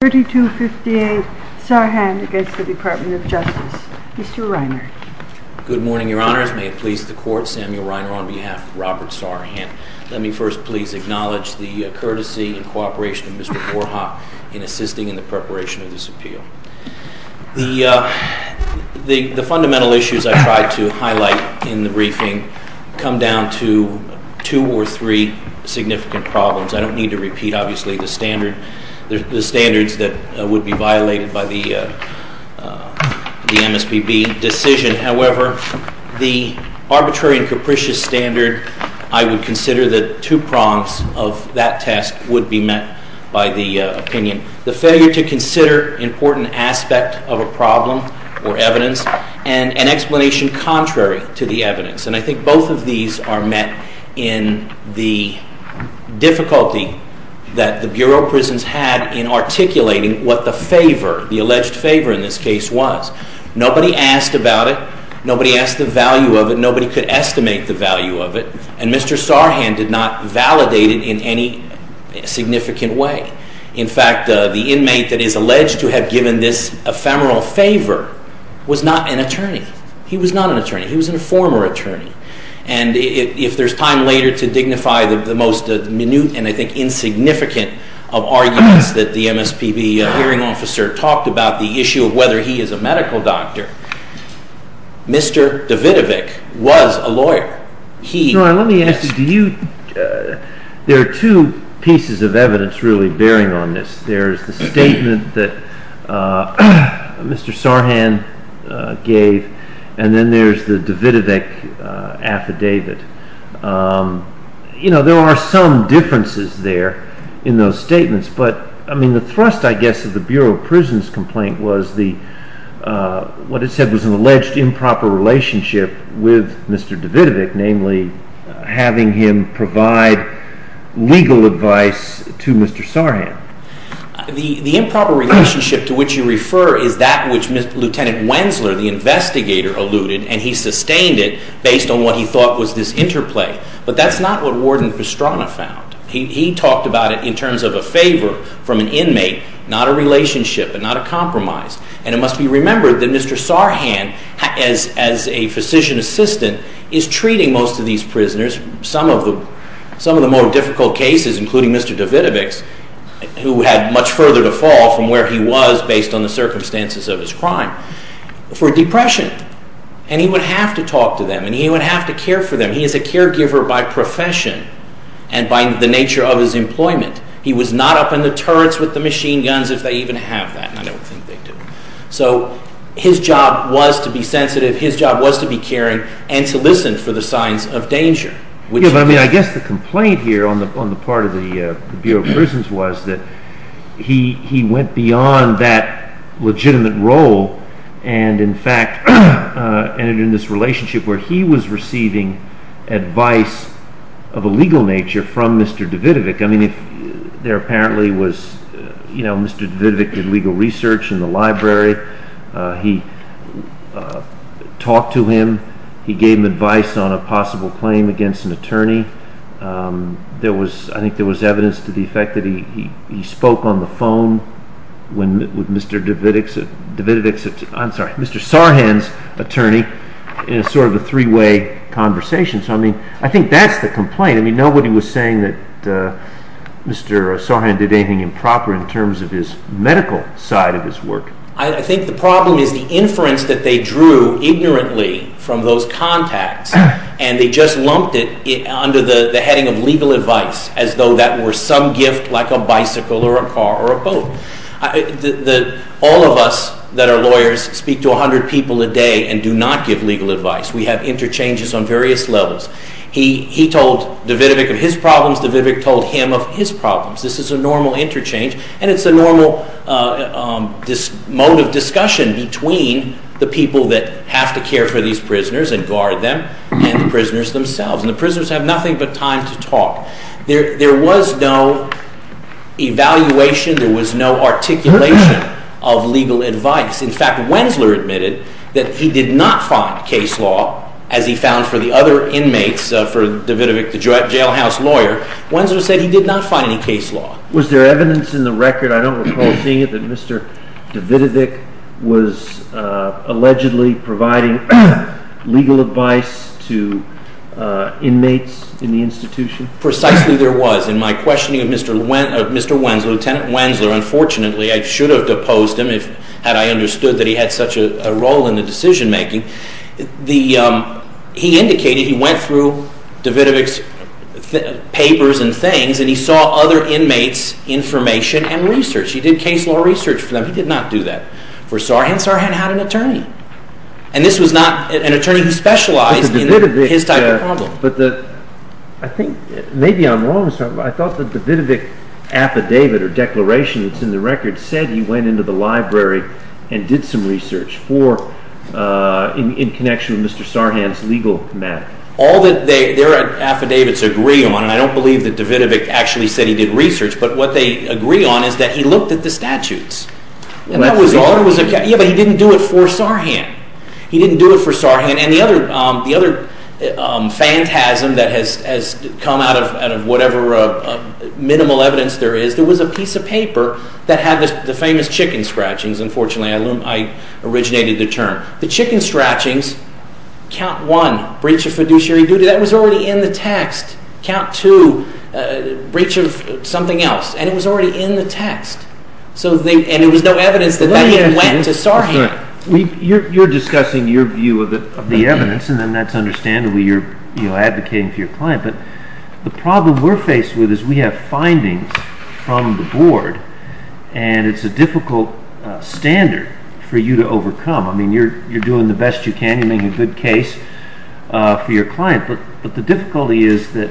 3258 Sarhan against the Department of Justice. Mr. Reiner. Good morning, Your Honors. May it please the Court, Samuel Reiner on behalf of Robert Sarhan. Let me first please acknowledge the courtesy and cooperation of Mr. Moorha in assisting in the preparation of this appeal. The fundamental issues I tried to highlight in the briefing come down to two or three significant problems. I don't need to repeat, obviously, the standards that would be violated by the MSPB decision. However, the arbitrary and capricious standard, I would consider the two prongs of that test would be met by the opinion. The failure to consider important aspects of a problem or evidence and an explanation contrary to the evidence. And I think both of these are met in the difficulty that the Bureau of Prisons had in articulating what the favor, the alleged favor in this case was. Nobody asked about it. Nobody asked the value of it. Nobody could estimate the value of it. And Mr. Sarhan did not validate it in any significant way. In fact, the inmate that is alleged to have given this ephemeral favor was not an attorney. He was not an attorney. He was a former attorney. And if there's time later to dignify the most minute and I think insignificant of arguments that the MSPB hearing officer talked about, the issue of whether he is a medical doctor, Mr. Davidovic was a lawyer. Let me ask you, there are two pieces of evidence really bearing on this. There's the statement that Mr. Sarhan gave and then there's the Davidovic affidavit. You know, there are some differences there in those statements. But, I mean, the thrust, I guess, of the Bureau of Prisons complaint was what it said was an alleged improper relationship with Mr. Davidovic, namely having him provide legal advice to Mr. Sarhan. The improper relationship to which you refer is that which Lieutenant Wensler, the investigator, alluded, and he sustained it based on what he thought was this interplay. But that's not what Warden Pastrana found. He talked about it in terms of a favor from an inmate, not a relationship and not a compromise. And it must be remembered that Mr. Sarhan, as a physician assistant, is treating most of these prisoners, some of the more difficult cases, including Mr. Davidovic's, who had much further to fall from where he was based on the circumstances of his crime, for depression. And he would have to talk to them and he would have to care for them. He is a caregiver by profession and by the nature of his employment. He was not up in the turrets with the machine guns, if they even have that, and I don't think they do. So his job was to be sensitive. His job was to be caring and to listen for the signs of danger, which he did. Yeah, but, I mean, I guess the complaint here on the part of the Bureau of Prisons was that he went beyond that legitimate role and, in fact, ended in this relationship where he was receiving advice of a legal nature from Mr. Davidovic. I mean, there apparently was, you know, Mr. Davidovic did legal research in the library. He talked to him. He gave him advice on a possible claim against an attorney. There was, I think there was evidence to the effect that he spoke on the phone with Mr. Davidovic's, I'm sorry, Mr. Sarhan's attorney in sort of a three-way conversation. So, I mean, I think that's the complaint. I mean, nobody was saying that Mr. Sarhan did anything improper in terms of his medical side of his work. I think the problem is the inference that they drew ignorantly from those contacts and they just lumped it under the heading of legal advice as though that were some gift like a bicycle or a car or a boat. All of us that are lawyers speak to 100 people a day and do not give legal advice. We have interchanges on various levels. He told Davidovic of his problems. Davidovic told him of his problems. This is a normal interchange and it's a normal mode of discussion between the people that have to care for these prisoners and guard them and the prisoners themselves. And the prisoners have nothing but time to talk. There was no evaluation. There was no articulation of legal advice. In fact, Wensler admitted that he did not find case law, as he found for the other inmates, for Davidovic, the jailhouse lawyer. Wensler said he did not find any case law. Was there evidence in the record, I don't recall seeing it, that Mr. Davidovic was allegedly providing legal advice to inmates in the institution? Precisely there was. In my questioning of Mr. Wensler, Lieutenant Wensler, unfortunately, I should have deposed him had I understood that he had such a role in the decision making. He indicated he went through Davidovic's papers and things and he saw other inmates' information and research. He did case law research for them. He did not do that for Sarhan. Sarhan had an attorney. And this was not an attorney who specialized in his type of problem. Maybe I'm wrong. I thought the Davidovic affidavit or declaration that's in the record said he went into the library and did some research in connection with Mr. Sarhan's legal matter. All that their affidavits agree on, and I don't believe that Davidovic actually said he did research, but what they agree on is that he looked at the statutes. But he didn't do it for Sarhan. He didn't do it for Sarhan. And the other phantasm that has come out of whatever minimal evidence there is, there was a piece of paper that had the famous chicken scratchings, unfortunately. I originated the term. The chicken scratchings, count one, breach of fiduciary duty. That was already in the text. Count two, breach of something else. And it was already in the text. And there was no evidence that he went to Sarhan. You're discussing your view of the evidence, and that's understandable. You're advocating for your client. But the problem we're faced with is we have findings from the board, and it's a difficult standard for you to overcome. I mean, you're doing the best you can. You're making a good case for your client. But the difficulty is that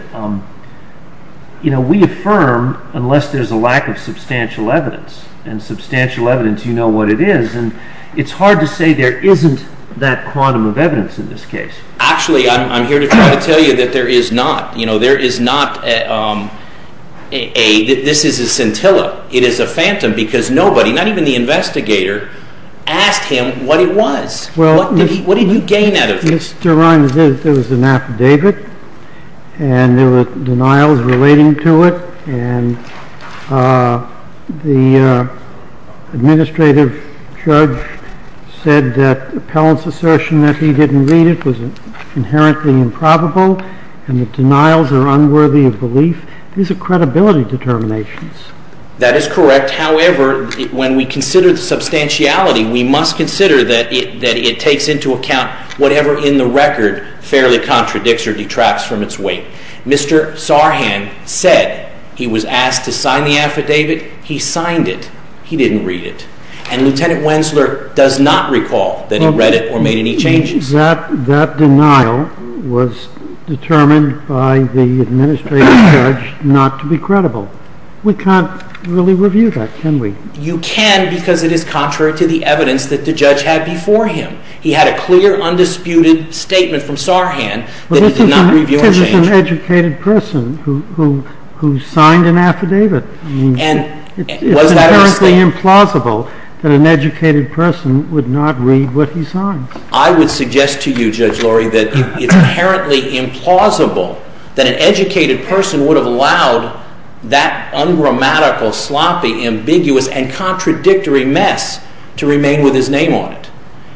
we affirm unless there's a lack of substantial evidence. And substantial evidence, you know what it is. And it's hard to say there isn't that quantum of evidence in this case. Actually, I'm here to try to tell you that there is not. There is not a – this is a scintilla. It is a phantom because nobody, not even the investigator, asked him what it was. What did you gain out of it? Yes, Your Honor, there was an affidavit. And there were denials relating to it. And the administrative judge said that the appellant's assertion that he didn't read it was inherently improbable. And the denials are unworthy of belief. These are credibility determinations. That is correct. However, when we consider the substantiality, we must consider that it takes into account whatever in the record fairly contradicts or detracts from its weight. Mr. Sarhan said he was asked to sign the affidavit. He signed it. He didn't read it. And Lieutenant Wensler does not recall that he read it or made any changes. That denial was determined by the administrative judge not to be credible. We can't really review that, can we? You can because it is contrary to the evidence that the judge had before him. He had a clear, undisputed statement from Sarhan that he did not review or change. But this is an educated person who signed an affidavit. And was that a mistake? It's inherently implausible that an educated person would not read what he signed. I would suggest to you, Judge Lurie, that it's inherently implausible that an educated person would have allowed that ungrammatical, sloppy, ambiguous, and contradictory mess to remain with his name on it.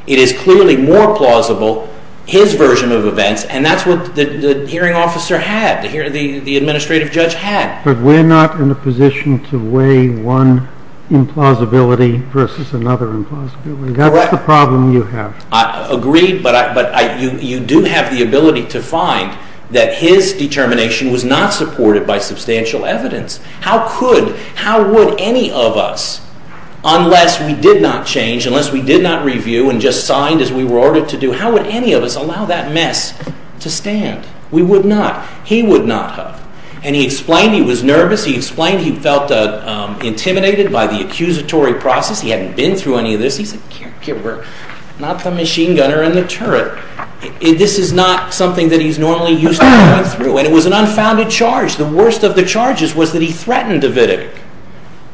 It is clearly more plausible his version of events, and that's what the hearing officer had, the administrative judge had. But we're not in a position to weigh one implausibility versus another implausibility. Correct. That's the problem you have. I agree, but you do have the ability to find that his determination was not supported by substantial evidence. How could, how would any of us, unless we did not change, unless we did not review and just signed as we were ordered to do, how would any of us allow that mess to stand? We would not. He would not have. And he explained he was nervous. He explained he felt intimidated by the accusatory process. He hadn't been through any of this. He's a caregiver, not the machine gunner in the turret. This is not something that he's normally used to going through. And it was an unfounded charge. The worst of the charges was that he threatened Davidic.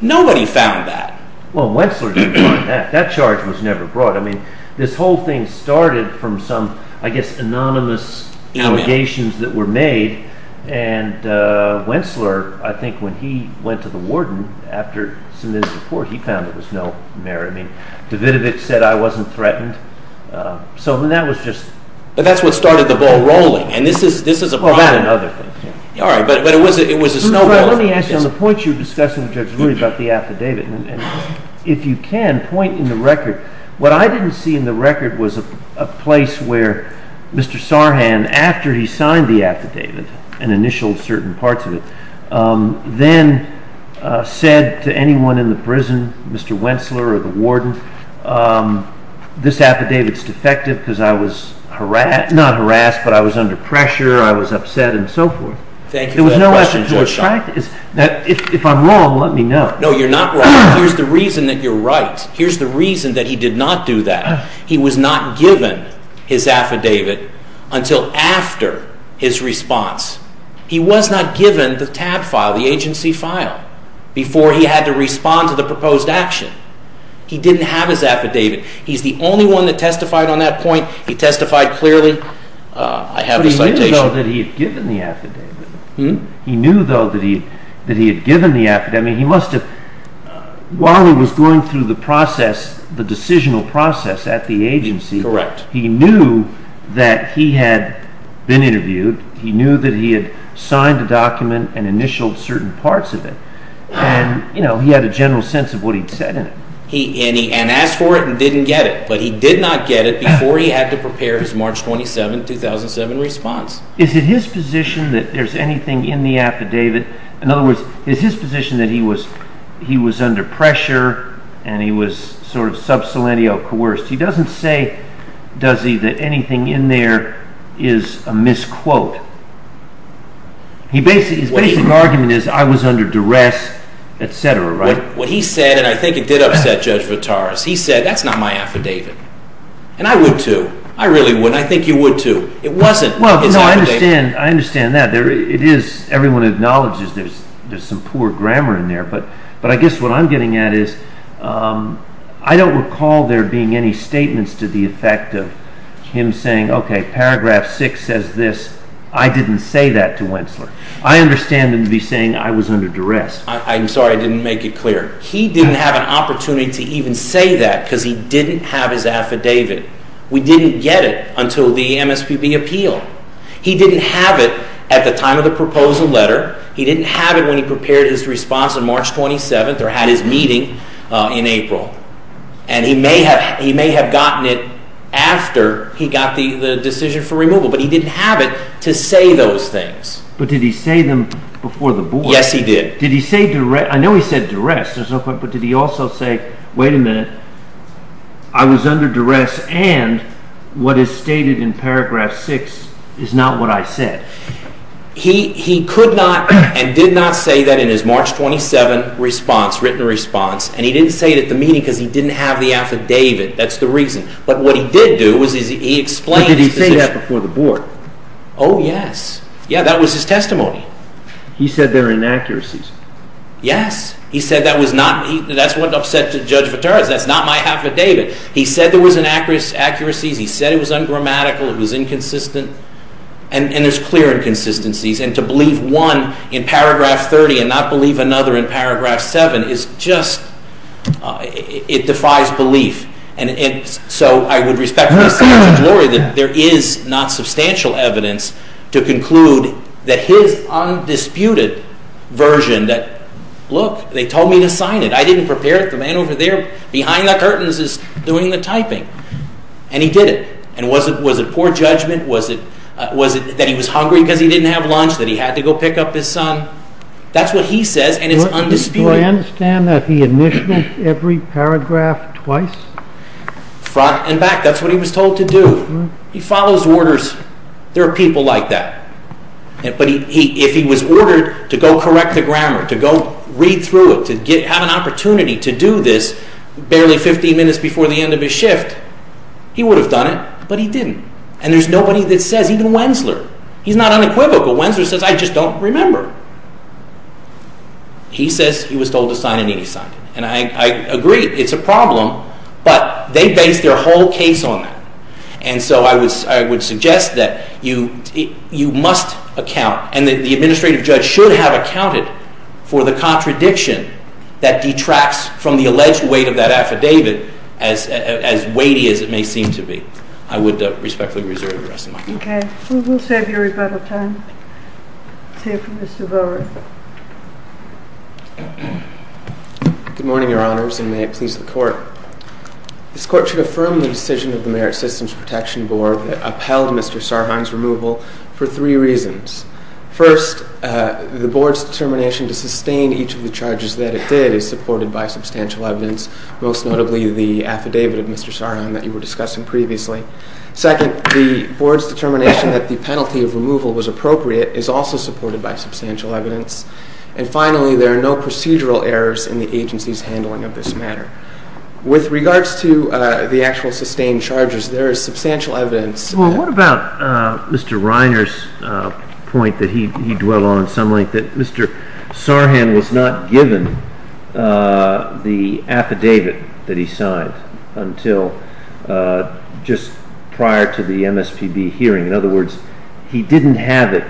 Nobody found that. Well, Wensler didn't find that. That charge was never brought. I mean, this whole thing started from some, I guess, anonymous allegations that were made. And Wensler, I think when he went to the warden after submitting his report, he found there was no merit. I mean, Davidic said, I wasn't threatened. So that was just… But that's what started the ball rolling. And this is a problem. Well, that and other things, yeah. All right, but it was a snowball effect. Let me ask you, on the point you were discussing with Judge Wooley about the affidavit, and if you can point in the record, what I didn't see in the record was a place where Mr. Sarhan, after he signed the affidavit, and initialed certain parts of it, then said to anyone in the prison, Mr. Wensler or the warden, this affidavit's defective because I was harassed, not harassed, but I was under pressure, I was upset, and so forth. Thank you for that question, Judge. If I'm wrong, let me know. No, you're not wrong. Here's the reason that you're right. Here's the reason that he did not do that. He was not given his affidavit until after his response. He was not given the TAB file, the agency file, before he had to respond to the proposed action. He didn't have his affidavit. He's the only one that testified on that point. He testified clearly. I have a citation. But he knew, though, that he had given the affidavit. He knew, though, that he had given the affidavit. While he was going through the process, the decisional process at the agency, he knew that he had been interviewed. He knew that he had signed a document and initialed certain parts of it, and he had a general sense of what he'd said in it. And he asked for it and didn't get it, but he did not get it before he had to prepare his March 27, 2007 response. Is it his position that there's anything in the affidavit? In other words, is his position that he was under pressure and he was sort of sub salientio coerced? He doesn't say, does he, that anything in there is a misquote. His basic argument is, I was under duress, et cetera, right? What he said, and I think it did upset Judge Votaris, he said, that's not my affidavit. And I would, too. I really wouldn't. I think you would, too. It wasn't his affidavit. Well, no, I understand that. Everyone acknowledges there's some poor grammar in there. But I guess what I'm getting at is I don't recall there being any statements to the effect of him saying, okay, paragraph 6 says this. I didn't say that to Wentzler. I understand him to be saying I was under duress. I'm sorry I didn't make it clear. He didn't have an opportunity to even say that because he didn't have his affidavit. We didn't get it until the MSPB appeal. He didn't have it at the time of the proposal letter. He didn't have it when he prepared his response on March 27th or had his meeting in April. And he may have gotten it after he got the decision for removal, but he didn't have it to say those things. But did he say them before the board? Yes, he did. Did he say duress? I know he said duress. But did he also say, wait a minute, I was under duress and what is stated in paragraph 6 is not what I said? He could not and did not say that in his March 27th written response. And he didn't say it at the meeting because he didn't have the affidavit. That's the reason. But what he did do was he explained his position. But did he say that before the board? Oh, yes. Yeah, that was his testimony. He said there are inaccuracies. Yes. He said that was not, that's what upset Judge Viterra, that's not my affidavit. He said there was inaccuracies. He said it was ungrammatical. It was inconsistent. And there's clear inconsistencies. And to believe one in paragraph 30 and not believe another in paragraph 7 is just, it defies belief. And so I would respect Judge Lori that there is not substantial evidence to conclude that his undisputed version that, look, they told me to sign it. I didn't prepare it. The man over there behind the curtains is doing the typing. And he did it. And was it poor judgment? Was it that he was hungry because he didn't have lunch, that he had to go pick up his son? That's what he says and it's undisputed. Do I understand that he initiated every paragraph twice? Front and back. That's what he was told to do. He follows orders. There are people like that. But if he was ordered to go correct the grammar, to go read through it, to have an opportunity to do this barely 15 minutes before the end of his shift, he would have done it. But he didn't. And there's nobody that says, even Wensler. He's not unequivocal. Wensler says, I just don't remember. He says he was told to sign it and he signed it. And I agree, it's a problem. But they based their whole case on that. And so I would suggest that you must account and that the administrative judge should have accounted for the contradiction that detracts from the alleged weight of that affidavit as weighty as it may seem to be. I would respectfully reserve the rest of my time. Okay. We'll save your rebuttal time. Let's hear from Mr. Bowers. Good morning, Your Honors, and may it please the Court. This Court should affirm the decision of the Merit Systems Protection Board that upheld Mr. Sarhan's removal for three reasons. First, the Board's determination to sustain each of the charges that it did is supported by substantial evidence, most notably the affidavit of Mr. Sarhan that you were discussing previously. Second, the Board's determination that the penalty of removal was appropriate is also supported by substantial evidence. And finally, there are no procedural errors in the agency's handling of this matter. With regards to the actual sustained charges, there is substantial evidence. Well, what about Mr. Reiner's point that he dwelt on some length, that Mr. Sarhan was not given the affidavit that he signed until just prior to the MSPB hearing? In other words, he didn't have it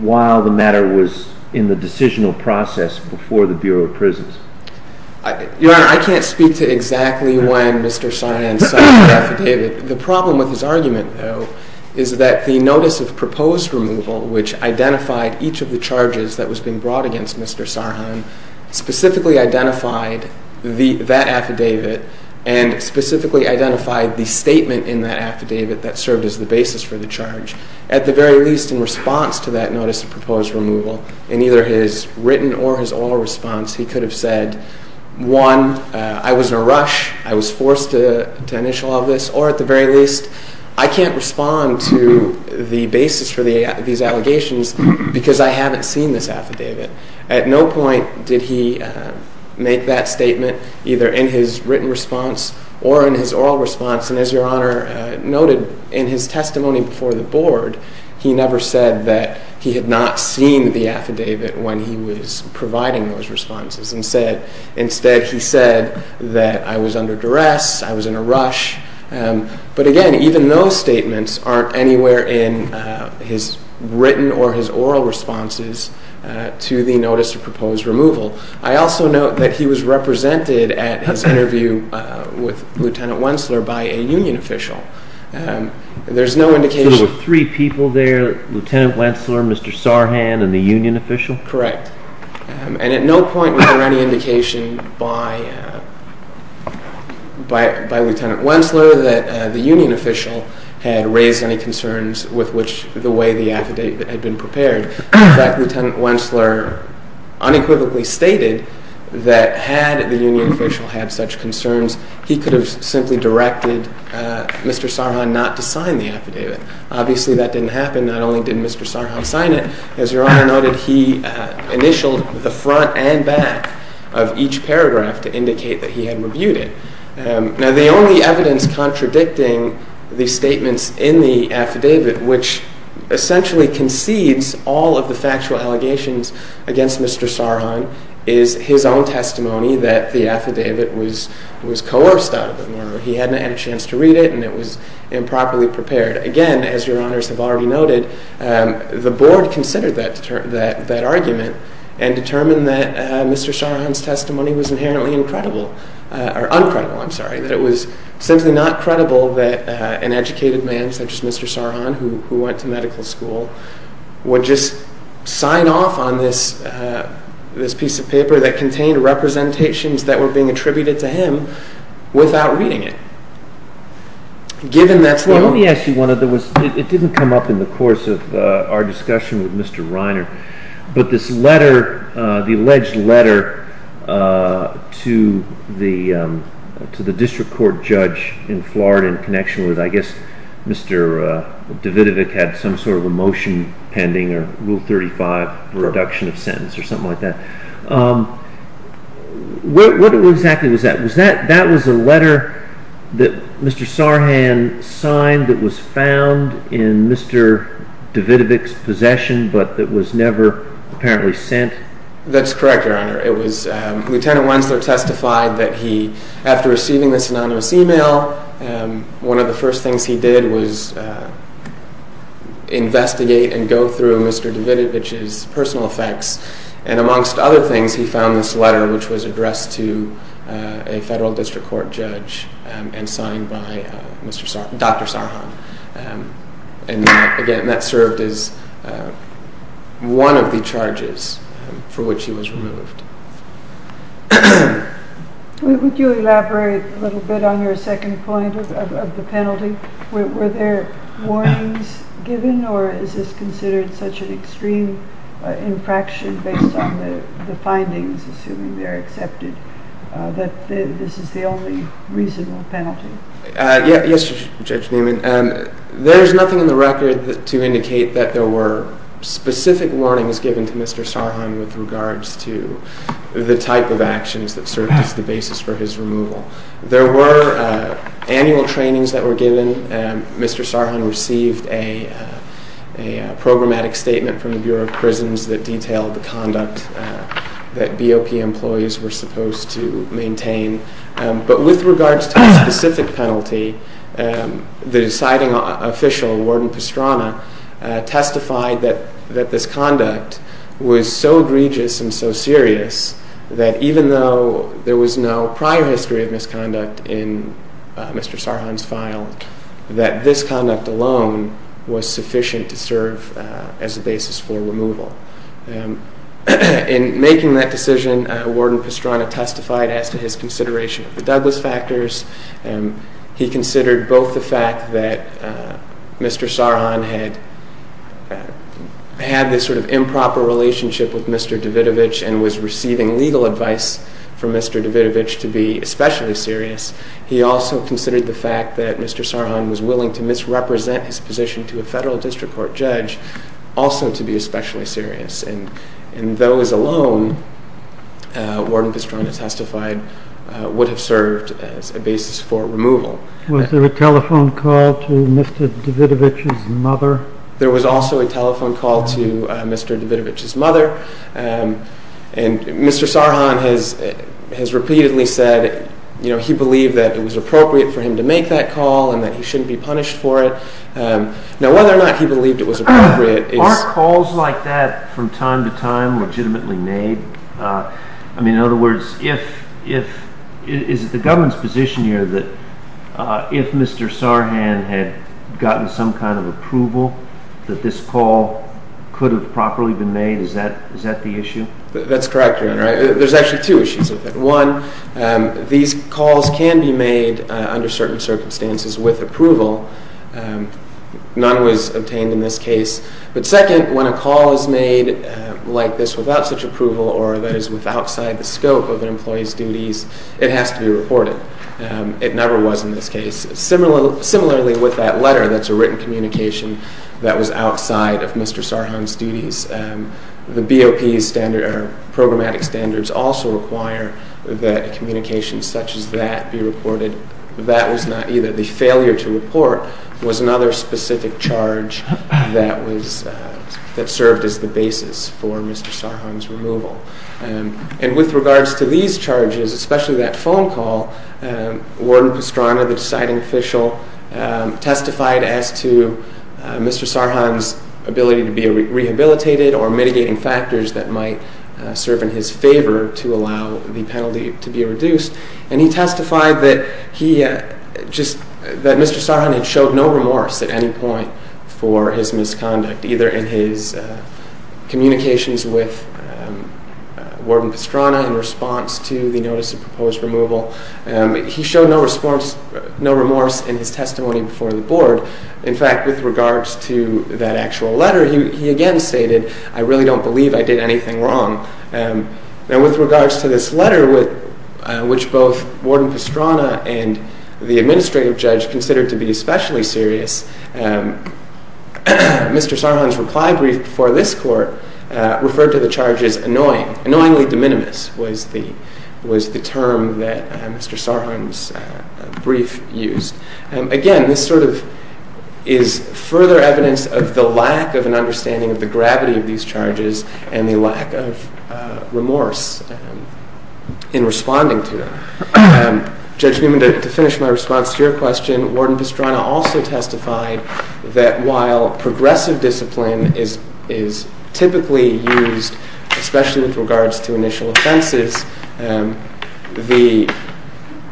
while the matter was in the decisional process before the Bureau of Prisons. Your Honor, I can't speak to exactly when Mr. Sarhan signed the affidavit. The problem with his argument, though, is that the Notice of Proposed Removal, which identified each of the charges that was being brought against Mr. Sarhan, specifically identified that affidavit and specifically identified the statement in that affidavit that served as the basis for the charge. At the very least, in response to that Notice of Proposed Removal, in either his written or his oral response, he could have said, one, I was in a rush, I was forced to initial all this, or at the very least, I can't respond to the basis for these allegations because I haven't seen this affidavit. At no point did he make that statement, either in his written response or in his oral response, and as Your Honor noted in his testimony before the Board, he never said that he had not seen the affidavit when he was providing those responses and said instead he said that I was under duress, I was in a rush. But again, even those statements aren't anywhere in his written or his oral responses to the Notice of Proposed Removal. I also note that he was represented at his interview with Lieutenant Wensler by a union official. There's no indication. There were three people there, Lieutenant Wensler, Mr. Sarhan, and the union official? Correct. And at no point was there any indication by Lieutenant Wensler that the union official had raised any concerns with which the way the affidavit had been prepared. In fact, Lieutenant Wensler unequivocally stated that had the union official had such concerns, he could have simply directed Mr. Sarhan not to sign the affidavit. Obviously, that didn't happen. Not only didn't Mr. Sarhan sign it, as Your Honor noted, he initialed the front and back of each paragraph to indicate that he had reviewed it. Now, the only evidence contradicting the statements in the affidavit, which essentially concedes all of the factual allegations against Mr. Sarhan, is his own testimony that the affidavit was coerced out of him, or he hadn't had a chance to read it and it was improperly prepared. Again, as Your Honors have already noted, the board considered that argument and determined that Mr. Sarhan's testimony was inherently uncredible, that it was simply not credible that an educated man such as Mr. Sarhan, who went to medical school, would just sign off on this piece of paper that contained representations that were being attributed to him without reading it. Well, let me ask you one other thing. It didn't come up in the course of our discussion with Mr. Reiner, but this letter, the alleged letter to the district court judge in Florida in connection with, I guess, Mr. Davidovic had some sort of a motion pending, or Rule 35, reduction of sentence, or something like that. What exactly was that? That was a letter that Mr. Sarhan signed that was found in Mr. Davidovic's possession, but that was never apparently sent? That's correct, Your Honor. It was, Lieutenant Wensler testified that he, after receiving this anonymous email, one of the first things he did was investigate and go through Mr. Davidovic's personal effects, and amongst other things, he found this letter which was addressed to a federal district court judge and signed by Dr. Sarhan, and again, that served as one of the charges for which he was removed. Would you elaborate a little bit on your second point of the penalty? Were there warnings given, or is this considered such an extreme infraction based on the findings, assuming they're accepted, that this is the only reasonable penalty? Yes, Judge Newman. There's nothing in the record to indicate that there were specific warnings given to Mr. Sarhan with regards to the type of actions that served as the basis for his removal. There were annual trainings that were given. Mr. Sarhan received a programmatic statement from the Bureau of Prisons that detailed the conduct that BOP employees were supposed to maintain, but with regards to a specific penalty, the deciding official, Warden Pastrana, testified that this conduct was so egregious and so serious that even though there was no prior history of misconduct in Mr. Sarhan's file, that this conduct alone was sufficient to serve as a basis for removal. In making that decision, Warden Pastrana testified as to his consideration of the Douglas factors. He considered both the fact that Mr. Sarhan had this sort of improper relationship with Mr. Davidovich and was receiving legal advice from Mr. Davidovich to be especially serious. He also considered the fact that Mr. Sarhan was willing to misrepresent his position to a federal district court judge also to be especially serious. And those alone, Warden Pastrana testified, would have served as a basis for removal. Was there a telephone call to Mr. Davidovich's mother? There was also a telephone call to Mr. Davidovich's mother. And Mr. Sarhan has repeatedly said he believed that it was appropriate for him to make that call and that he shouldn't be punished for it. Now, whether or not he believed it was appropriate is— Are calls like that from time to time legitimately made? I mean, in other words, is it the government's position here that if Mr. Sarhan had gotten some kind of approval that this call could have properly been made? Is that the issue? That's correct, Your Honor. There's actually two issues with it. One, these calls can be made under certain circumstances with approval. None was obtained in this case. But second, when a call is made like this without such approval or that is outside the scope of an employee's duties, it has to be reported. It never was in this case. Similarly with that letter that's a written communication that was outside of Mr. Sarhan's duties, the BOP's programmatic standards also require that a communication such as that be reported. That was not either. The failure to report was another specific charge that served as the basis for Mr. Sarhan's removal. And with regards to these charges, especially that phone call, Warden Pastrana, the deciding official, testified as to Mr. Sarhan's ability to be rehabilitated or mitigating factors that might serve in his favor to allow the penalty to be reduced. And he testified that Mr. Sarhan had showed no remorse at any point for his misconduct, either in his communications with Warden Pastrana in response to the notice of proposed removal. He showed no remorse in his testimony before the Board. In fact, with regards to that actual letter, he again stated, I really don't believe I did anything wrong. Now with regards to this letter, which both Warden Pastrana and the administrative judge considered to be especially serious, Mr. Sarhan's reply brief for this court referred to the charges annoying. Annoyingly de minimis was the term that Mr. Sarhan's brief used. Again, this sort of is further evidence of the lack of an understanding of the gravity of these charges and the lack of remorse in responding to them. Judge Newman, to finish my response to your question, Warden Pastrana also testified that while progressive discipline is typically used, especially with regards to initial offenses, the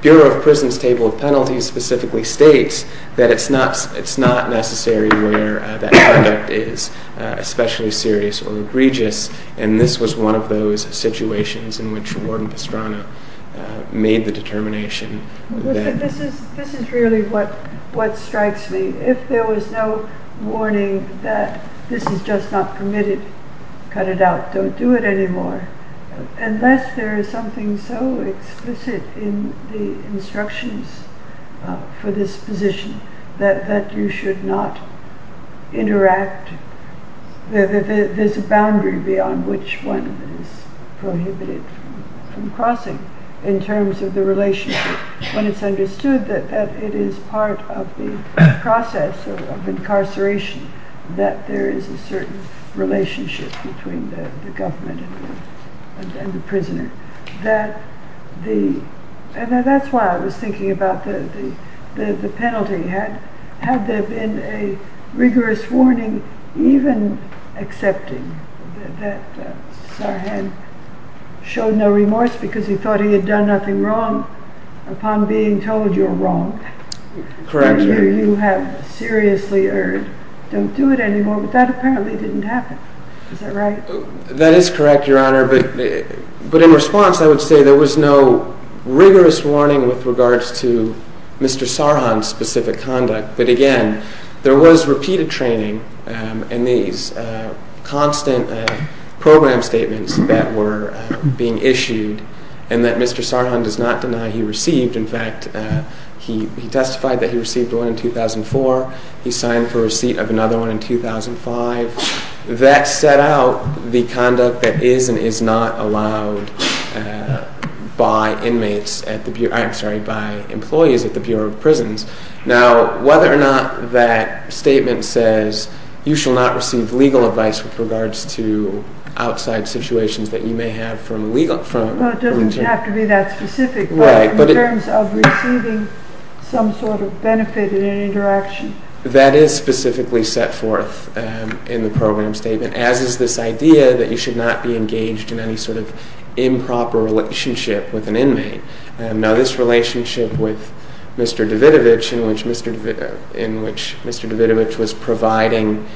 Bureau of Prisons Table of Penalties specifically states that it's not necessary where that conduct is especially serious or egregious. And this was one of those situations in which Warden Pastrana made the determination. This is really what strikes me. If there was no warning that this is just not permitted, cut it out, don't do it anymore. Unless there is something so explicit in the instructions for this position that you should not interact, there's a boundary beyond which one is prohibited from crossing in terms of the relationship when it's understood that it is part of the process of incarceration that there is a certain relationship between the government and the prisoner. And that's why I was thinking about the penalty. Had there been a rigorous warning even accepting that Sarhan showed no remorse because he thought he had done nothing wrong upon being told you're wrong, that you have seriously erred, don't do it anymore, but that apparently didn't happen. Is that right? That is correct, Your Honor. But in response, I would say there was no rigorous warning with regards to Mr. Sarhan's specific conduct. But again, there was repeated training in these constant program statements that were being issued and that Mr. Sarhan does not deny he received. In fact, he testified that he received one in 2004. He signed for receipt of another one in 2005. That set out the conduct that is and is not allowed by employees at the Bureau of Prisons. Now, whether or not that statement says you shall not receive legal advice with regards to outside situations that you may have from legal... Well, it doesn't have to be that specific in terms of receiving some sort of benefit in an interaction. That is specifically set forth in the program statement, as is this idea that you should not be engaged in any sort of improper relationship with an inmate. Now, this relationship with Mr. Davidovich in which Mr. Davidovich was providing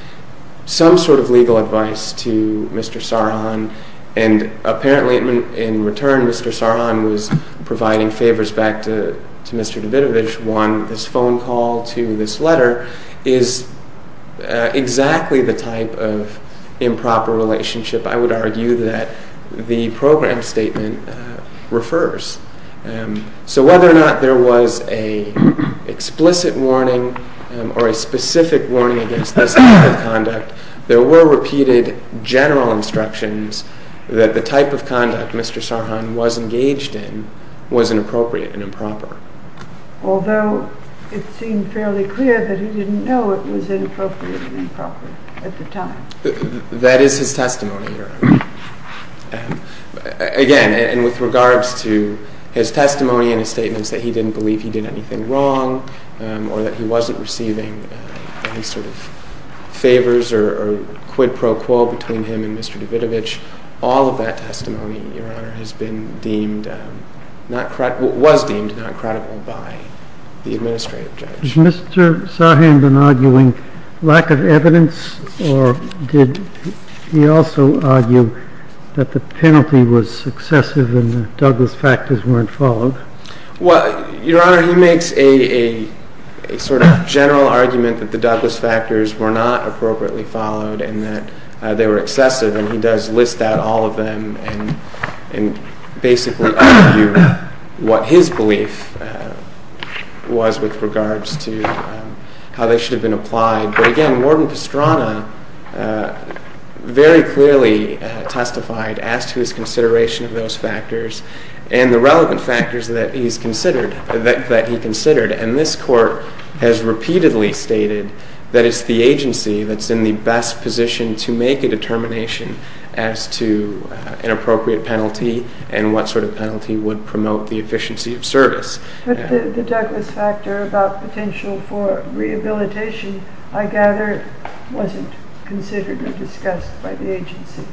some sort of legal advice to Mr. Sarhan and apparently in return Mr. Sarhan was providing favors back to Mr. Davidovich, won this phone call to this letter, is exactly the type of improper relationship I would argue that the program statement refers. So whether or not there was an explicit warning or a specific warning against this type of conduct, there were repeated general instructions that the type of conduct Mr. Sarhan was engaged in was inappropriate and improper. Although it seemed fairly clear that he didn't know it was inappropriate and improper at the time. That is his testimony, Your Honor. Again, and with regards to his testimony and his statements that he didn't believe he did anything wrong or that he wasn't receiving any sort of favors or quid pro quo between him and Mr. Davidovich, all of that testimony, Your Honor, has been deemed, was deemed not credible by the administrative judge. Was Mr. Sarhan been arguing lack of evidence or did he also argue that the penalty was excessive and the Douglas factors weren't followed? Well, Your Honor, he makes a sort of general argument that the Douglas factors were not appropriately followed and that they were excessive. And he does list out all of them and basically argue what his belief was with regards to how they should have been applied. But again, Warden Pastrana very clearly testified as to his consideration of those factors and the relevant factors that he's considered, that he considered. And this Court has repeatedly stated that it's the agency that's in the best position to make a determination as to an appropriate penalty and what sort of penalty would promote the efficiency of service. But the Douglas factor about potential for rehabilitation, I gather, wasn't considered or discussed by the agency.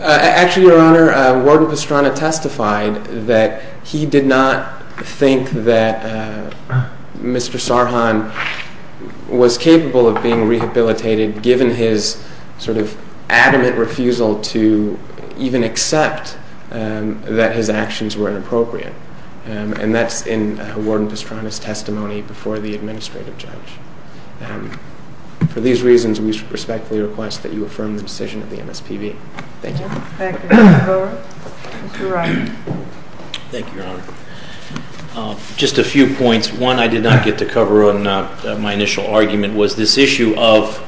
Actually, Your Honor, Warden Pastrana testified that he did not think that Mr. Sarhan was capable of being rehabilitated given his sort of adamant refusal to even accept that his actions were inappropriate. And that's in Warden Pastrana's testimony before the administrative judge. For these reasons, we respectfully request that you affirm the decision of the MSPB. Thank you. Thank you, Your Honor. Mr. Wright. Thank you, Your Honor. Just a few points. One I did not get to cover in my initial argument was this issue of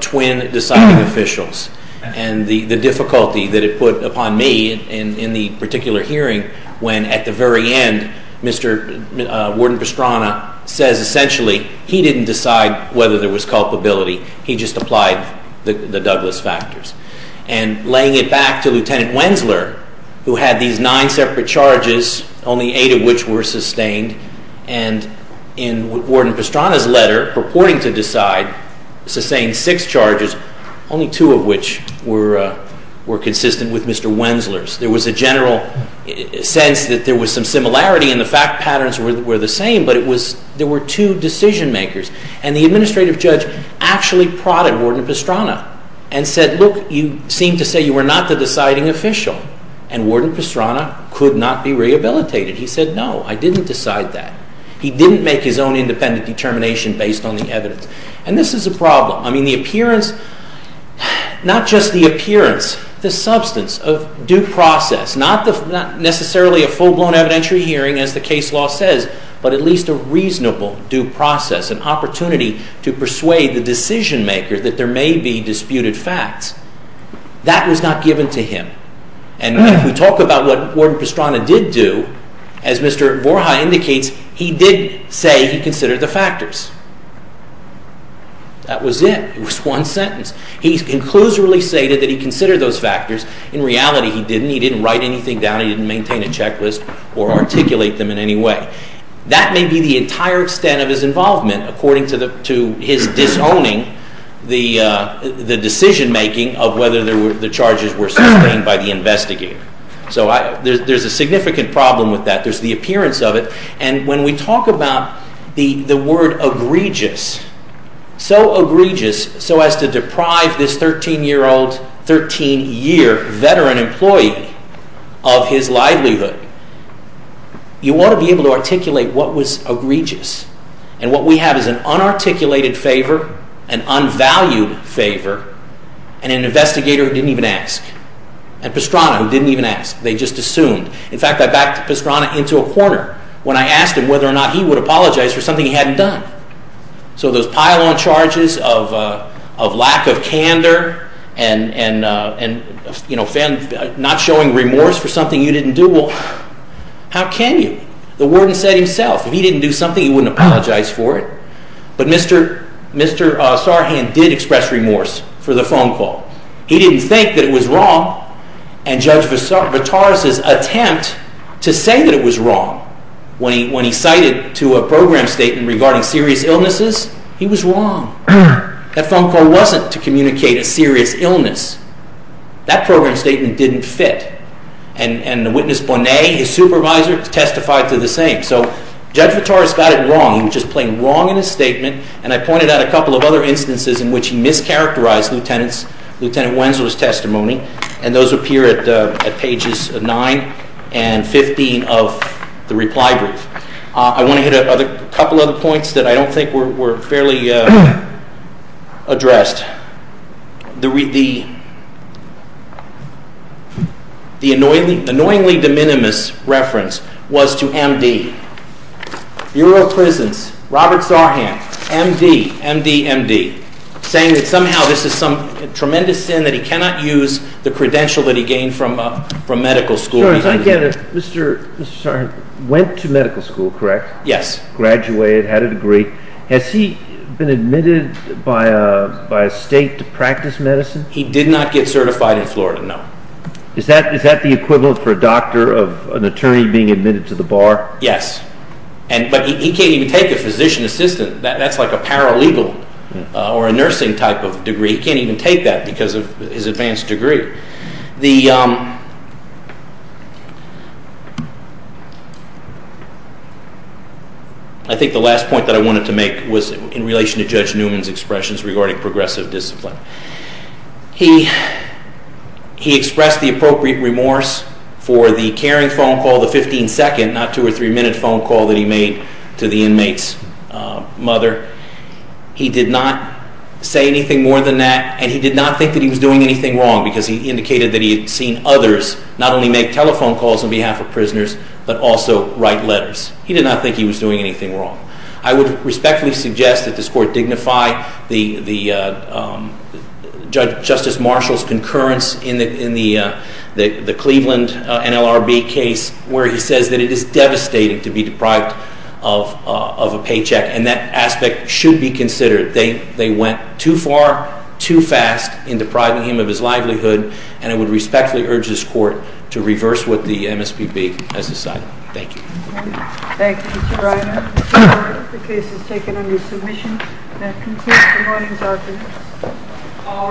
twin deciding officials and the difficulty that it put upon me in the particular hearing when at the very end, Mr. Warden Pastrana says essentially he didn't decide whether there was culpability, he just applied the Douglas factors. And laying it back to Lieutenant Wensler, who had these nine separate charges, only eight of which were sustained, and in Warden Pastrana's letter purporting to decide, sustained six charges, only two of which were consistent with Mr. Wensler's. There was a general sense that there was some similarity and the fact patterns were the same, but there were two decision makers. And the administrative judge actually prodded Warden Pastrana and said, look, you seem to say you were not the deciding official. And Warden Pastrana could not be rehabilitated. He said, no, I didn't decide that. He didn't make his own independent determination based on the evidence. And this is a problem. I mean, the appearance, not just the appearance, the substance of due process, not necessarily a full-blown evidentiary hearing as the case law says, but at least a reasonable due process, an opportunity to persuade the decision maker that there may be disputed facts. That was not given to him. And if we talk about what Warden Pastrana did do, as Mr. Vorhai indicates, he did say he considered the factors. That was it. It was one sentence. He conclusively stated that he considered those factors. In reality, he didn't. He didn't write anything down. He didn't maintain a checklist or articulate them in any way. That may be the entire extent of his involvement according to his disowning the decision making of whether the charges were sustained by the investigator. So there's a significant problem with that. There's the appearance of it. And when we talk about the word egregious, so egregious so as to deprive this 13-year-old, 13-year veteran employee of his livelihood, you want to be able to articulate what was egregious. And what we have is an unarticulated favor, an unvalued favor, and an investigator who didn't even ask, and Pastrana who didn't even ask. They just assumed. In fact, I backed Pastrana into a corner. When I asked him whether or not he would apologize for something he hadn't done. So those pile-on charges of lack of candor and not showing remorse for something you didn't do, well, how can you? The warden said himself if he didn't do something, he wouldn't apologize for it. But Mr. Sarhan did express remorse for the phone call. He didn't think that it was wrong. And Judge Vitaris' attempt to say that it was wrong when he cited to a program statement regarding serious illnesses, he was wrong. That phone call wasn't to communicate a serious illness. That program statement didn't fit. And the witness, Bonet, his supervisor, testified to the same. So Judge Vitaris got it wrong. He was just playing wrong in his statement. And I pointed out a couple of other instances in which he mischaracterized Lieutenant Wenzel's testimony. And those appear at pages 9 and 15 of the reply brief. I want to hit a couple other points that I don't think were fairly addressed. The annoyingly de minimis reference was to M.D. Bureau of Prisons, Robert Sarhan, M.D., M.D., M.D. saying that somehow this is some tremendous sin that he cannot use the credential that he gained from medical school. Mr. Sarhan went to medical school, correct? Yes. Graduated, had a degree. Has he been admitted by a state to practice medicine? He did not get certified in Florida, no. Is that the equivalent for a doctor of an attorney being admitted to the bar? Yes. But he can't even take a physician assistant. That's like a paralegal or a nursing type of degree. He can't even take that because of his advanced degree. I think the last point that I wanted to make was in relation to Judge Newman's expressions regarding progressive discipline. He expressed the appropriate remorse for the caring phone call, the 15-second, not two- or three-minute phone call that he made to the inmate's mother. He did not say anything more than that, and he did not think that he was doing anything wrong, because he indicated that he had seen others not only make telephone calls on behalf of prisoners, but also write letters. He did not think he was doing anything wrong. I would respectfully suggest that this Court dignify Justice Marshall's concurrence in the Cleveland NLRB case where he says that it is devastating to be deprived of a paycheck, and that aspect should be considered. They went too far too fast in depriving him of his livelihood, and I would respectfully urge this Court to reverse what the MSPB has decided. Thank you. Thank you, Mr. Reiner. The case is taken under submission. That concludes the morning's arguments. All rise. Thank you.